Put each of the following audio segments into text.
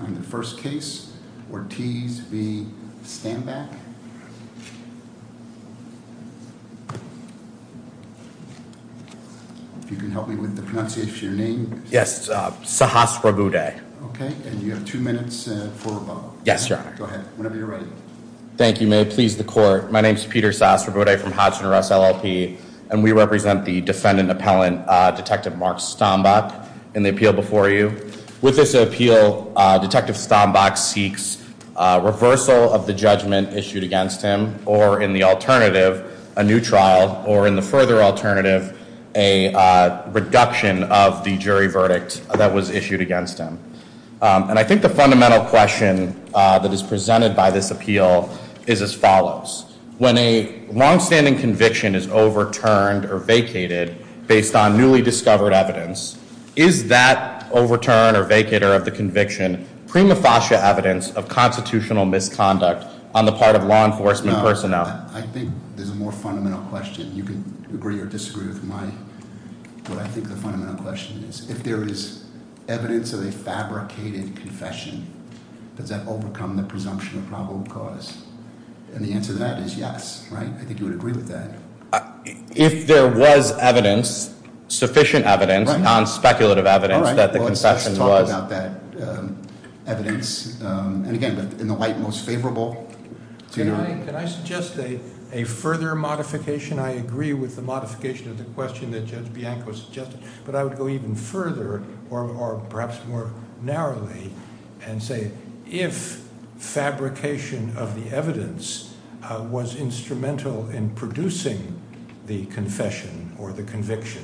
on the first case, Ortiz v. Stambach. If you can help me with the pronunciation of your name. Yes, Sahasrabuddhe. Okay, and you have two minutes for a vote. Yes, your honor. Go ahead, whenever you're ready. Thank you, may it please the court. My name is Peter Sahasrabuddhe from Hodgson Russ LLP and we represent the defendant appellant, Detective Mark Stombach in the appeal before you. With this appeal, Detective Stombach seeks reversal of the judgment issued against him or in the alternative, a new trial or in the further alternative, a reduction of the jury verdict that was issued against him. And I think the fundamental question that is presented by this appeal is as follows. When a long-standing conviction is overturned or vacated based on newly discovered evidence, is that overturn or vacator of the conviction prima facie evidence of constitutional misconduct on the part of law enforcement personnel? I think there's a more fundamental question. You can agree or disagree with what I think the fundamental question is. If there is evidence of a fabricated confession, does that overcome the presumption of probable cause? And the answer to that is yes, right? I think you would agree with that. If there was evidence, sufficient evidence, non-speculative evidence, that the confession was... Let's talk about that evidence. And again, in the light most favorable to you. Can I suggest a further modification? I agree with the modification of the question that Judge Bianco suggested, but I would go even further or perhaps more narrowly and say if fabrication of the confession or the conviction,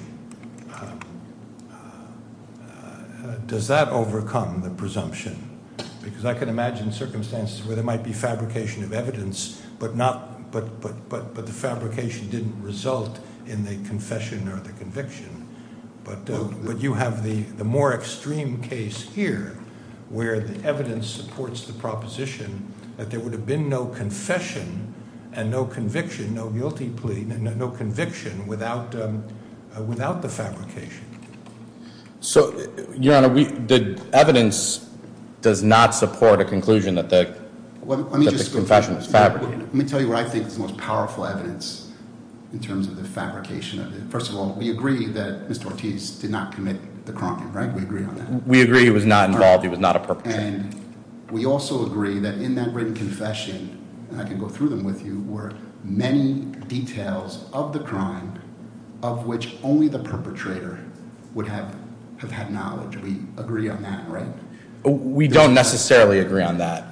does that overcome the presumption? Because I can imagine circumstances where there might be fabrication of evidence, but the fabrication didn't result in the confession or the conviction. But you have the more extreme case here where the evidence supports the proposition that there would have been no confession and no conviction, no guilty plea, no conviction without the fabrication. So, Your Honor, the evidence does not support a conclusion that the confession was fabricated. Let me tell you what I think is the most powerful evidence in terms of the fabrication of it. First of all, we agree that Mr. Ortiz did not commit the crime, right? We agree on that. We agree he was not the perpetrator. The evidence that I threw them with you were many details of the crime of which only the perpetrator would have had knowledge. We agree on that, right? We don't necessarily agree on that.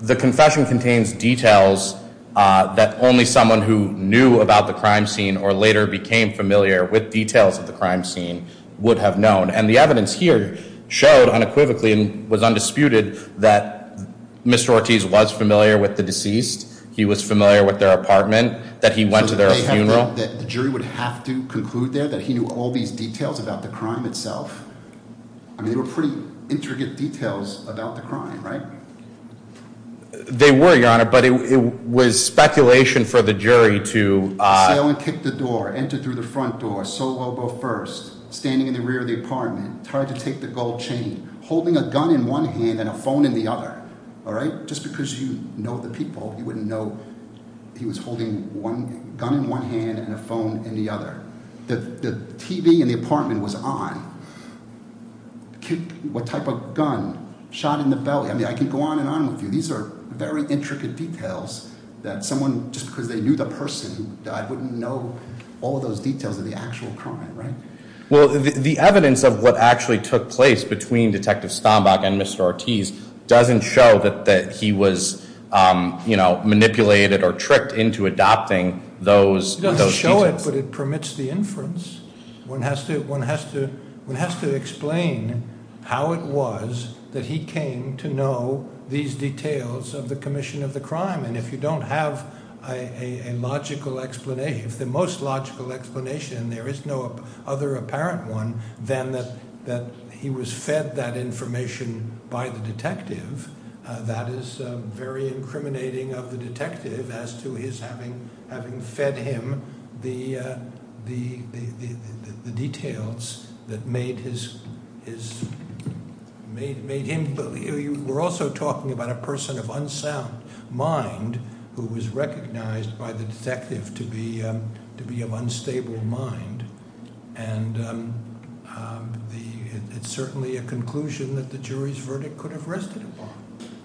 The confession contains details that only someone who knew about the crime scene or later became familiar with details of the crime scene would have known. And the evidence here showed unequivocally and was undisputed that Mr. Ortiz was familiar with the deceased. He was familiar with their apartment, that he went to their funeral. So the jury would have to conclude there that he knew all these details about the crime itself? I mean, they were pretty intricate details about the crime, right? They were, Your Honor, but it was speculation for the jury to- Sail and kick the door, enter through the front door, solo go first, standing in the rear of the apartment, trying to take the gold chain, holding a gun in one hand and a phone in the other. All right? Just because you know the people, you wouldn't know he was holding one gun in one hand and a phone in the other. The TV in the apartment was on. What type of gun? Shot in the belly. I mean, I can go on and on with you. These are very intricate details that someone, just because they knew the person, I wouldn't know all of those details of the actual crime, right? Well, the evidence of what actually took place between Detective Stombach and Mr. Ortiz doesn't show that he was, you know, manipulated or tricked into adopting those- It doesn't show it, but it permits the inference. One has to explain how it was that he came to know these details of the commission of the crime. And if you don't have a logical explanation, if the most logical explanation, there is no other apparent one, then that he was fed that information by the detective, that is very incriminating of the detective as to his having fed him the details that made him believe. We're also talking about a person of unsound mind who was recognized by the detective to be of unstable mind. And it's certainly a conclusion that the jury's verdict could have rested upon.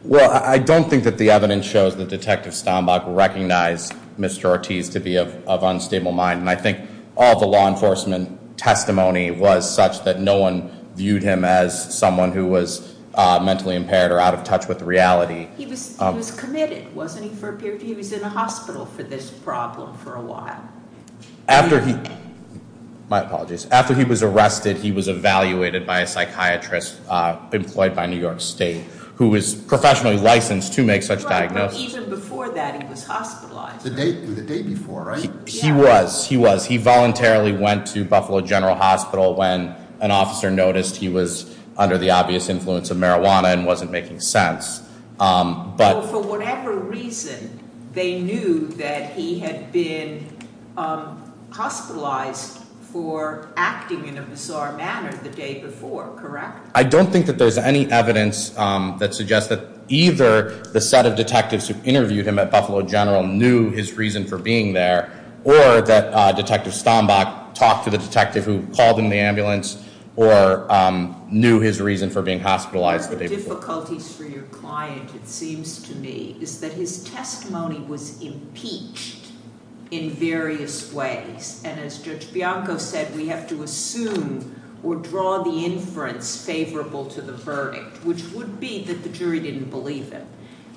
Well, I don't think that the evidence shows that Detective Stombach recognized Mr. Ortiz to be of unstable mind. And I think all the law enforcement testimony was such that no one viewed him as someone who was mentally impaired or out of touch with reality. He was committed, wasn't he? He was in a hospital for this problem for a while. After he- My apologies. After he was arrested, he was evaluated by a psychiatrist employed by New York State who was professionally licensed to make such diagnosis. Even before that, he was hospitalized. The day before, right? He was. He was. He voluntarily went to Buffalo General Hospital when an officer noticed he was under the obvious influence of marijuana and wasn't making sense. But- For whatever reason, they knew that he had been hospitalized for acting in a bizarre manner the day before, correct? I don't think that there's any evidence that suggests that either the set of detectives who interviewed him at Buffalo General knew his reason for being there, or that Detective Stombach talked to the detective who called in the ambulance or knew his reason for being hospitalized the day before. One of the difficulties for your client, it seems to me, is that his testimony was impeached in various ways. And as Judge Bianco said, we have to assume or draw the inference favorable to the verdict, which would be that the jury didn't believe him.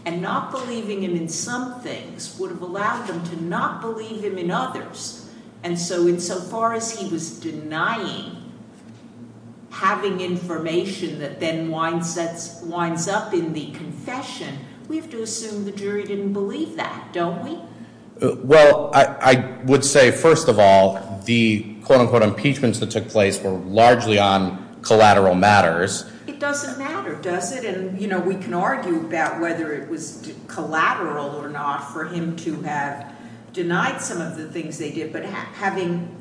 And not believing him in some things would have allowed them to not believe him in others. And so, insofar as he was denying having information that then winds up in the confession, we have to assume the jury didn't believe that, don't we? Well, I would say, first of all, the quote-unquote impeachments that took place were largely on collateral matters. It doesn't matter, does it? And, you know, we can argue about whether it was collateral or not for him to have denied some of the things they did. But having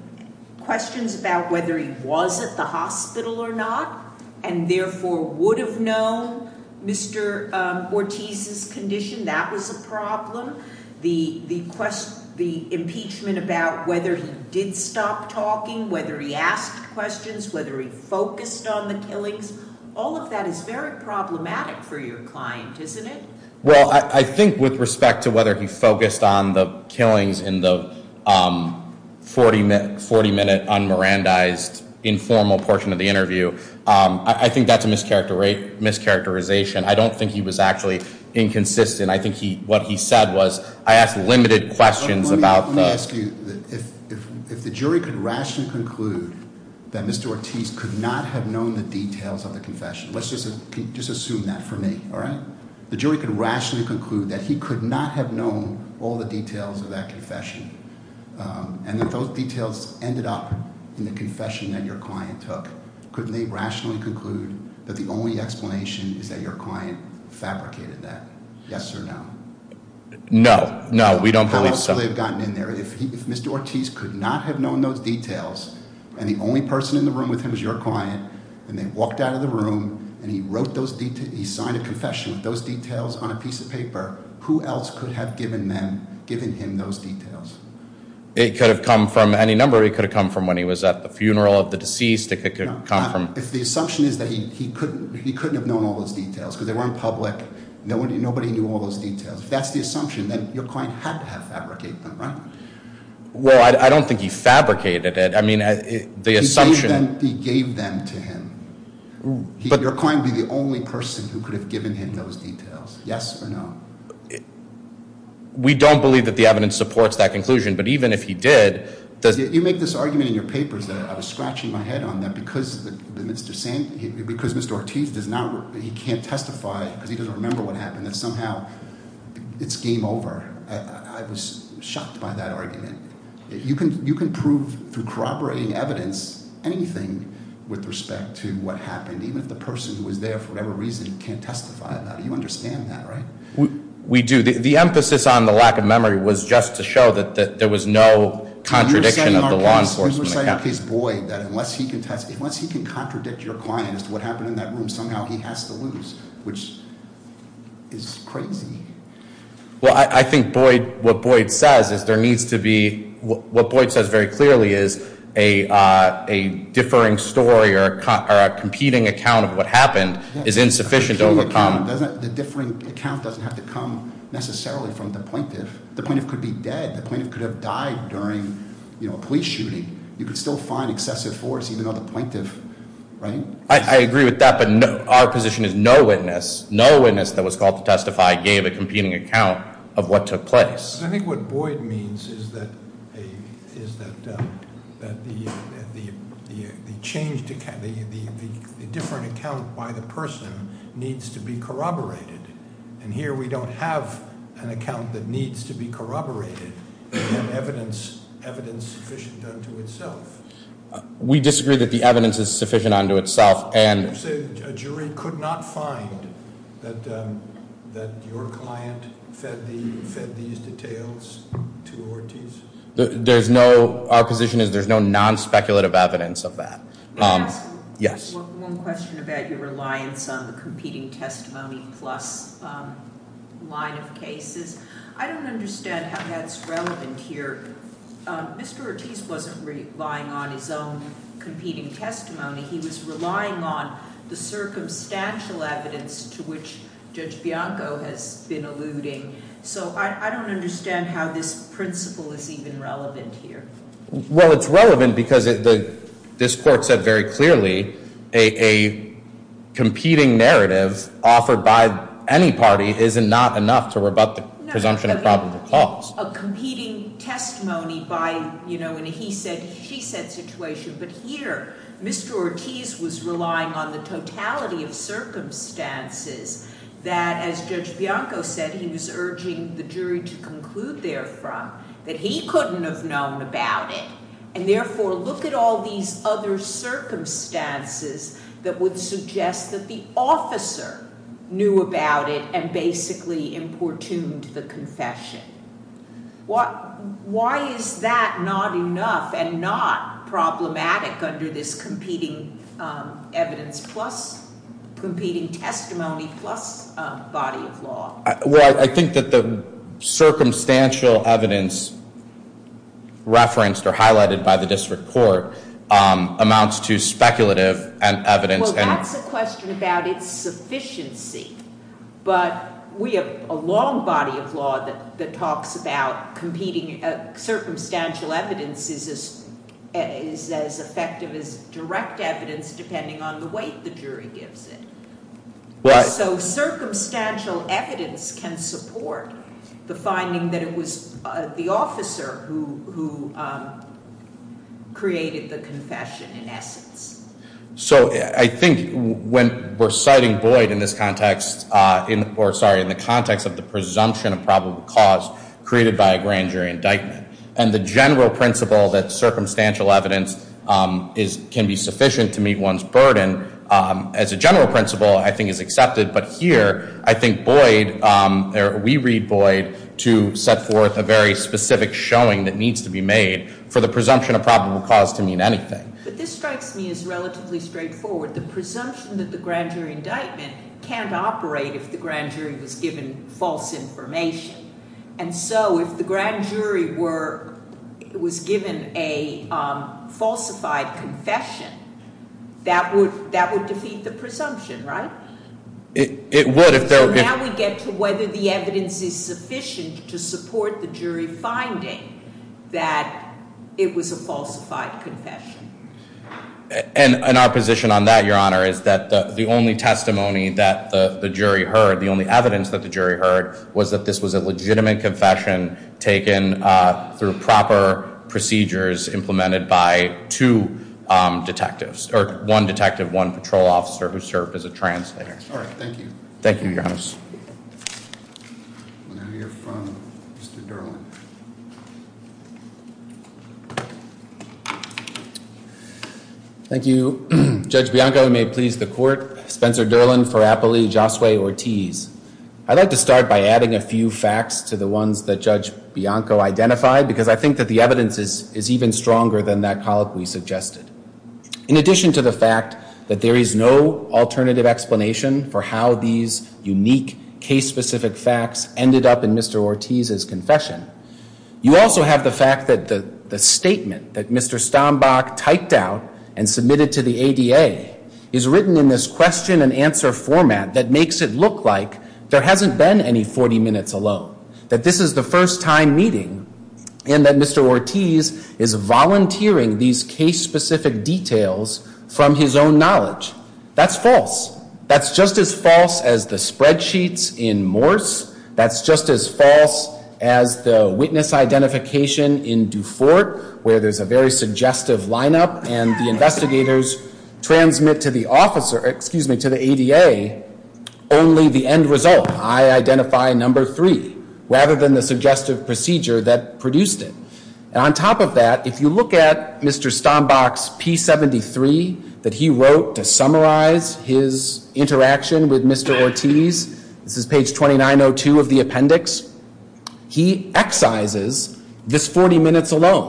questions about whether he was at the hospital or not, and therefore would have known Mr. Ortiz's condition, that was a problem. The impeachment about whether he did stop talking, whether he asked questions, whether he focused on the killings, all of that is very problematic for your client, isn't it? Well, I think with respect to whether he focused on the killings in the 40-minute un-Mirandized informal portion of the interview, I think that's a mischaracterization. I don't think he was actually inconsistent. I think what he said was, I asked limited questions about- Let me ask you, if the jury could rationally conclude that Mr. Ortiz could not have known the details of the confession, let's just assume that for me, all right? The jury could rationally conclude that he could not have known all the details of that confession. And if those details ended up in the confession that your client took, couldn't they rationally conclude that the only explanation is that your client fabricated that? Yes or no? No. No, we don't believe so. How else would they have gotten in there if Mr. Ortiz could not have known those details, and the only person in the room with him is your client, and they walked out of the room, and he wrote those details, he signed a confession with those details on a piece of paper, who else could have given him those details? It could have come from any number. It could have come from when he was at the funeral of the deceased. It could come from- If the assumption is that he couldn't have known all those details because they weren't public, nobody knew all those details. If that's the assumption, then your client had to have fabricated them, right? Well, I don't think he fabricated it. I mean, the assumption- He gave them to him. Your client would be the only person who could have given him those details. Yes or no? We don't believe that the evidence supports that conclusion, but even if he did- You make this argument in your papers that I was scratching my head on, that because Mr. Ortiz can't testify because he doesn't remember what happened, that somehow it's game over. I was shocked by that argument. You can prove, through corroborating evidence, anything with respect to what happened, even if the person who was there, for whatever reason, can't testify about it. You understand that, right? We do. The emphasis on the lack of memory was just to show that there was no contradiction of the law enforcement account. You're saying, in our case, Boyd, that unless he can contradict your client as to what happened in that room, somehow he has to lose, which is crazy. Well, I think what Boyd says very clearly is a differing story or a competing account of what happened is insufficient to overcome- The differing account doesn't have to come necessarily from the plaintiff. The plaintiff could be dead. The plaintiff could have died during a police shooting. You could still find excessive force, even though the plaintiff, right? I agree with that, but our position is no witness. No witness that was called to testify gave a competing account of what took place. I think what Boyd means is that the different account by the person needs to be corroborated. And here, we don't have an account that needs to be corroborated. We have evidence sufficient unto itself. We disagree that the evidence is sufficient unto itself. And you say a jury could not find that your client fed these details to Ortiz? Our position is there's no non-speculative evidence of that. May I ask one question about your reliance on the competing testimony plus line of cases? I don't understand how that's relevant here. Mr. Ortiz wasn't relying on his own competing testimony. He was relying on the circumstantial evidence to which Judge Bianco has been alluding. So I don't understand how this principle is even relevant here. Well, it's relevant because this court said very clearly a competing narrative offered by any party is not enough to rebut the presumption of probable cause. A competing testimony by, you know, in a he said, she said situation. But here, Mr. Ortiz was relying on the totality of circumstances that, as Judge Bianco said, he was urging the jury to conclude, therefore, that he couldn't have known about it. And therefore, look at all these other circumstances that would suggest that the officer knew about it and basically importuned the confession. Why is that not enough and not problematic under this competing evidence plus, competing testimony plus body of law? Well, I think that the circumstantial evidence referenced or highlighted by the district court amounts to speculative evidence. Well, that's a question about its sufficiency. But we have a long body of law that talks about competing circumstantial evidence is as effective as direct evidence, depending on the weight the jury gives it. So circumstantial evidence can support the finding that it was the officer who created the confession in essence. So I think when we're citing Boyd in this context, or sorry, in the context of the presumption of probable cause created by a grand jury indictment, and the general principle that circumstantial evidence can be sufficient to meet one's burden, as a general principle, I think is accepted. But here, I think Boyd, or we read Boyd, to set forth a very specific showing that needs to be made for the presumption of probable cause to mean anything. But this strikes me as relatively straightforward. The presumption that the grand jury indictment can't operate if the grand jury was given false information. And so if the grand jury was given a falsified confession, that would defeat the presumption, right? It would if there were- So now we get to whether the evidence is sufficient to support the jury finding that it was a falsified confession. And our position on that, Your Honor, is that the only testimony that the jury heard, the only evidence that the jury heard, was that this was a legitimate confession taken through proper procedures implemented by two detectives, or one detective, one patrol officer who served as a translator. All right, thank you. Thank you, Your Honor. Now you're from Mr. Durland. Thank you, Judge Bianco. May it please the court. Spencer Durland, Farapoli, Josue Ortiz. I'd like to start by adding a few facts to the ones that Judge Bianco identified, because I think that the evidence is even stronger than that colleague we suggested. In addition to the fact that there is no alternative explanation for how these unique case-specific facts ended up in Mr. Ortiz's confession, you also have the fact that the statement that Mr. Stombach typed out and submitted to the ADA is written in this question-and-answer format that makes it look like there hasn't been any 40 minutes alone, that this is the first time meeting, and that Mr. Ortiz is volunteering these case-specific details from his own knowledge. That's false. That's just as false as the spreadsheets in Morse. That's just as false as the witness identification in Dufort, where there's a very suggestive lineup, and the investigators transmit to the officer, excuse me, to the ADA, only the end result, I identify number three, rather than the suggestive procedure that produced it. And on top of that, if you look at Mr. Stombach's P73 that he wrote to summarize his interaction with Mr. Ortiz, this is page 2902 of the appendix, he excises this 40 minutes alone.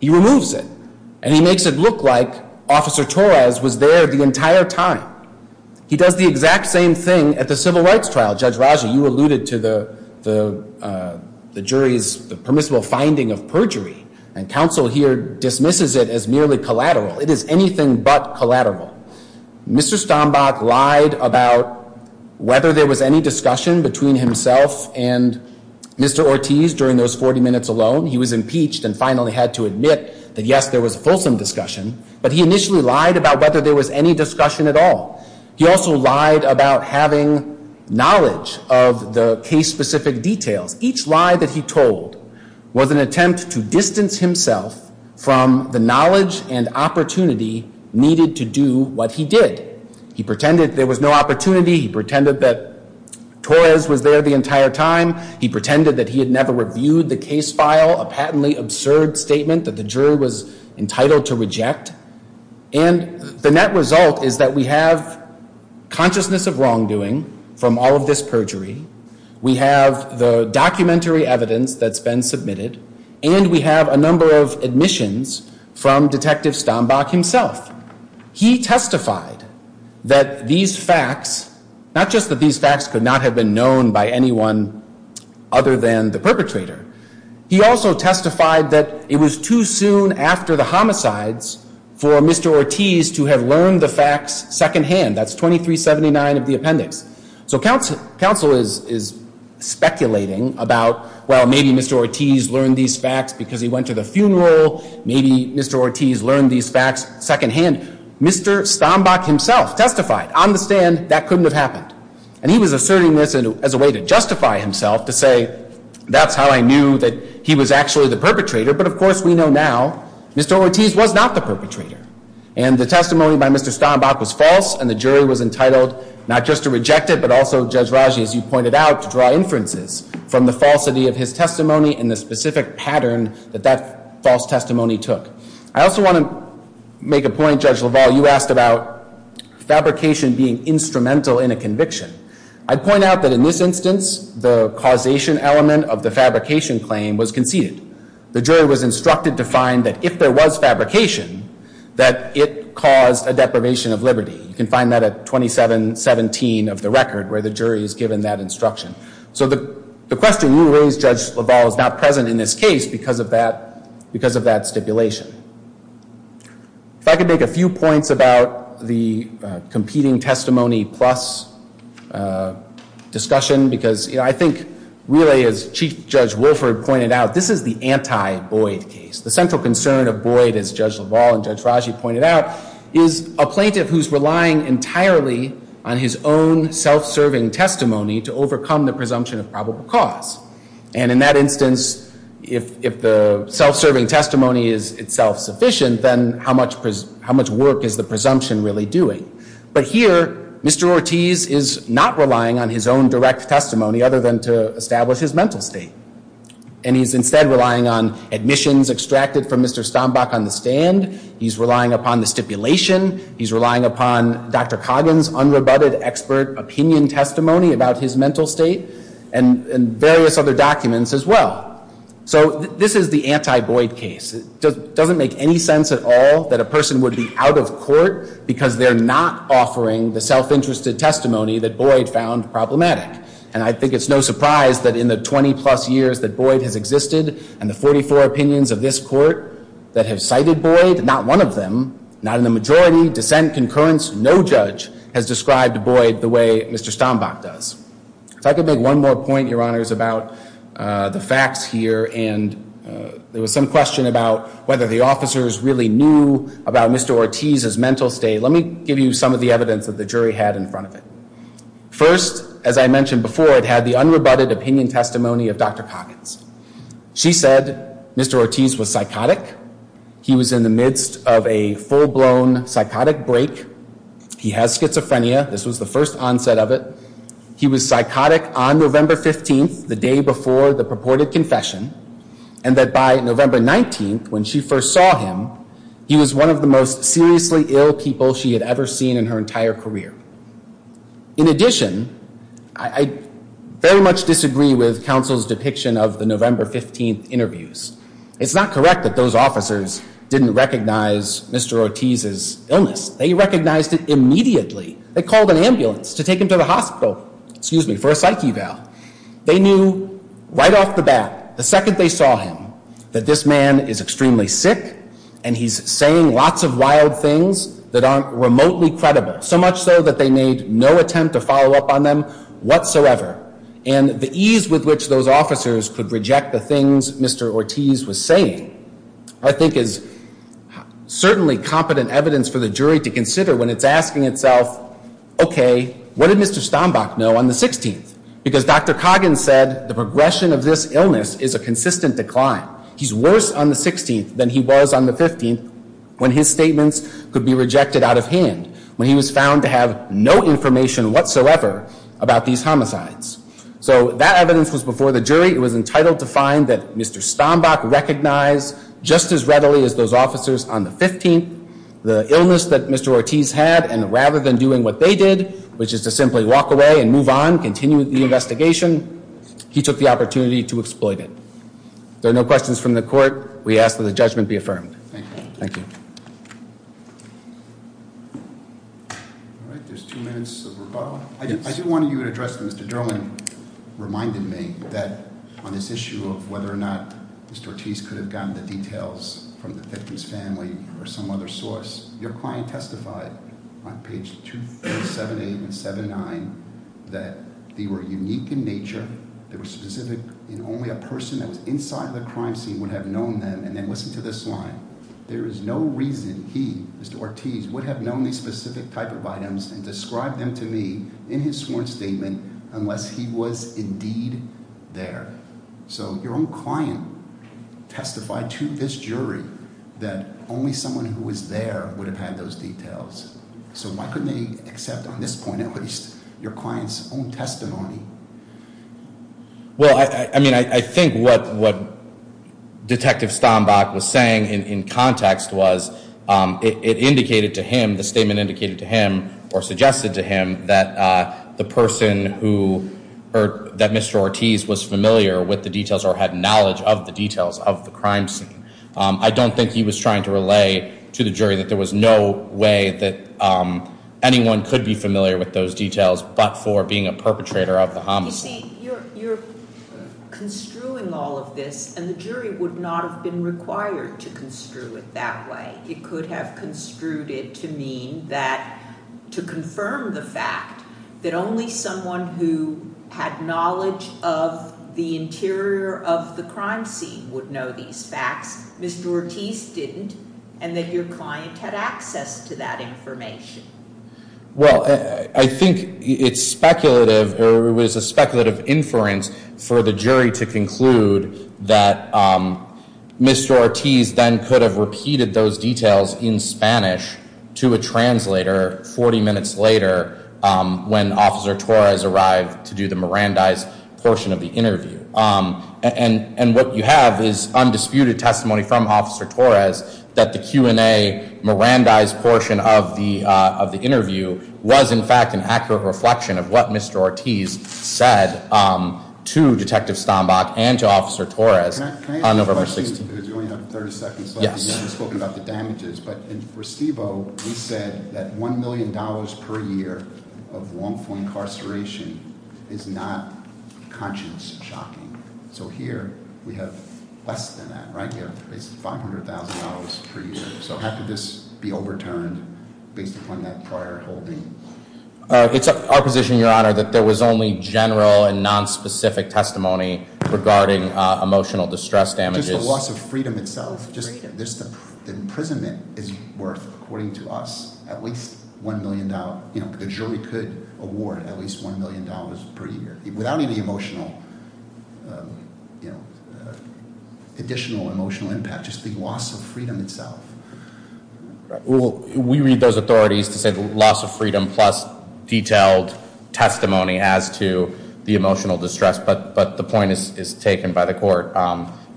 He removes it, and he makes it look like Officer Torres was there the entire time. He does the exact same thing at the civil rights trial. Judge Raji, you alluded to the jury's permissible finding of perjury, and counsel here dismisses it as merely collateral. It is anything but collateral. Mr. Stombach lied about whether there was any discussion between himself and Mr. Ortiz during those 40 minutes alone. He was impeached and finally had to admit that, yes, there was a fulsome discussion, but he initially lied about whether there was any discussion at all. He also lied about having knowledge of the case-specific details. Each lie that he told was an attempt to distance himself from the knowledge and opportunity needed to do what he did. He pretended there was no opportunity. He pretended that Torres was there the entire time. He pretended that he had never reviewed the case file, a patently absurd statement that the jury was entitled to reject. And the net result is that we have consciousness of wrongdoing from all of this perjury. We have the documentary evidence that's been submitted, and we have a number of admissions from Detective Stombach himself. He testified that these facts, not just that these facts could not have been known by anyone other than the perpetrator, he also testified that it was too soon after the homicides for Mr. Ortiz to have learned the facts secondhand. That's 2379 of the appendix. So counsel is speculating about, well, maybe Mr. Ortiz learned these facts because he went to the funeral. Maybe Mr. Ortiz learned these facts secondhand. Mr. Stombach himself testified on the stand that couldn't have happened. And he was asserting this as a way to justify himself, to say that's how I knew that he was actually the perpetrator. But of course, we know now Mr. Ortiz was not the perpetrator. And the testimony by Mr. Stombach was false, and the jury was entitled not just to reject it, but also, Judge Raji, as you pointed out, to draw inferences from the falsity of his testimony and the specific pattern that that false testimony took. I also want to make a point, Judge LaValle, you asked about fabrication being instrumental in a conviction. I'd point out that in this instance, the causation element of the fabrication claim was conceded. The jury was instructed to find that if there was fabrication, that it caused a deprivation of liberty. You can find that at 2717 of the record, where the jury is given that instruction. So the question you raised, Judge LaValle, is not present in this case because of that stipulation. If I could make a few points about the competing testimony plus discussion, because I think really, as Chief Judge Wolford pointed out, this is the anti-Boyd case. The central concern of Boyd, as Judge LaValle and Judge Raji pointed out, is a plaintiff who's relying entirely on his own self-serving testimony to overcome the presumption of probable cause. And in that instance, if the self-serving testimony is itself sufficient, then how much work is the presumption really doing? But here, Mr. Ortiz is not relying on his own direct testimony other than to establish his mental state. And he's instead relying on admissions extracted from Mr. Stombach on the stand. He's relying upon the stipulation. He's relying upon Dr. Coggin's unrebutted expert opinion testimony about his mental state and various other documents as well. So this is the anti-Boyd case. It doesn't make any sense at all that a person would be out of court because they're not offering the self-interested testimony that Boyd found problematic. And I think it's no surprise that in the 20-plus years that Boyd has existed and the 44 opinions of this court that have cited Boyd, not one of them, not in the majority, dissent, concurrence, no judge has described Boyd the way Mr. Stombach does. If I could make one more point, Your Honors, about the facts here and there was some question about whether the officers really knew about Mr. Ortiz's mental state. Let me give you some of the evidence that the jury had in front of it. First, as I mentioned before, it had the unrebutted opinion testimony of Dr. Coggins. She said Mr. Ortiz was psychotic. He was in the midst of a full-blown psychotic break. He has schizophrenia. This was the first onset of it. He was psychotic on November 15th, the day before the purported confession. And that by November 19th, when she first saw him, he was one of the most seriously ill people she had ever seen in her entire career. In addition, I very much disagree with counsel's depiction of the November 15th interviews. It's not correct that those officers didn't recognize Mr. Ortiz's illness. They recognized it immediately. They called an ambulance to take him to the hospital, excuse me, for a psyche valve. They knew right off the bat, the second they saw him, that this man is extremely sick and he's saying lots of wild things that aren't remotely credible, so much so that they made no attempt to follow up on them whatsoever. And the ease with which those officers could reject the things Mr. Ortiz was saying, I think is certainly competent evidence for the jury to consider when it's asking itself, okay, what did Mr. Stombach know on the 16th? Because Dr. Coggins said the progression of this illness is a consistent decline. He's worse on the 16th than he was on the 15th when his statements could be rejected out of hand. When he was found to have no information whatsoever about these homicides. So that evidence was before the jury. It was entitled to find that Mr. Stombach recognized just as readily as those officers on the 15th the illness that Mr. Ortiz had. And rather than doing what they did, which is to simply walk away and move on, continue the investigation, he took the opportunity to exploit it. There are no questions from the court. We ask that the judgment be affirmed. Thank you. All right. There's two minutes of rebuttal. I do want you to address, Mr. Durland reminded me that on this issue of whether or not Mr. Ortiz could have gotten the details from the Thickens family or some other source. Your client testified on page 2, 3, 7, 8, and 7, 9 that they were unique in nature. They were specific in only a person that was inside the crime scene would have known them. And then listen to this line. There is no reason he, Mr. Ortiz, would have known these specific type of items and described them to me in his sworn statement unless he was indeed there. So your own client testified to this jury that only someone who was there would have had those details. So why couldn't they accept on this point at least your client's own testimony? Well, I mean, I think what Detective Stombach was saying in context was it indicated to him, the statement indicated to him or suggested to him that the person who, that Mr. Ortiz was familiar with the details or had knowledge of the details of the crime scene. I don't think he was trying to relay to the jury that there was no way that anyone could be familiar with those details but for being a perpetrator of the homicide. You see, you're construing all of this and the jury would not have been required to construe it that way. It could have construed it to mean that to confirm the fact that only someone who had knowledge of the interior of the crime scene would know these facts. Mr. Ortiz didn't and that your client had access to that information. Well, I think it's speculative or it was a speculative inference for the jury to conclude that Mr. Ortiz then could have repeated those details in Spanish to a translator 40 minutes later when Officer Torres arrived to do the Mirandize portion of the interview. And what you have is undisputed testimony from Officer Torres that the Q&A Mirandize portion of the interview was in fact an accurate reflection of what Mr. Ortiz said to Detective Stombach and to Officer Torres on November 16th. Can I ask you a question because you only have 30 seconds left and you haven't spoken about the damages. But for Steve-O, he said that $1 million per year of wrongful incarceration is not conscience shocking. So here we have less than that, right? It's $500,000 per year. So how could this be overturned based upon that prior holding? It's our position, Your Honor, that there was only general and nonspecific testimony regarding emotional distress damages. Just the loss of freedom itself, just the imprisonment is worth, according to us, at least $1 million. The jury could award at least $1 million per year without any emotional, you know, additional emotional impact. Just the loss of freedom itself. Well, we read those authorities to say the loss of freedom plus detailed testimony as to the emotional distress. But the point is taken by the court.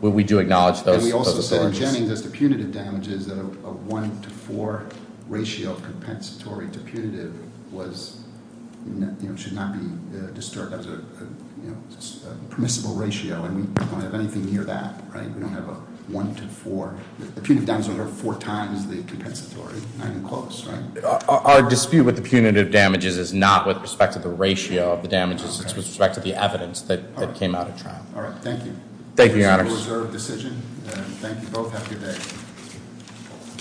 We do acknowledge those- And we also said in Jennings as to punitive damages, a one to four ratio of compensatory to punitive was, you know, should not be disturbed as a permissible ratio. And we don't have anything near that, right? We don't have a one to four. The punitive damages are four times the compensatory, not even close, right? Our dispute with the punitive damages is not with respect to the ratio of the damages. It's with respect to the evidence that came out of trial. All right. Thank you. Thank you, Your Honor. It's a reserved decision. Thank you both. Have a good day.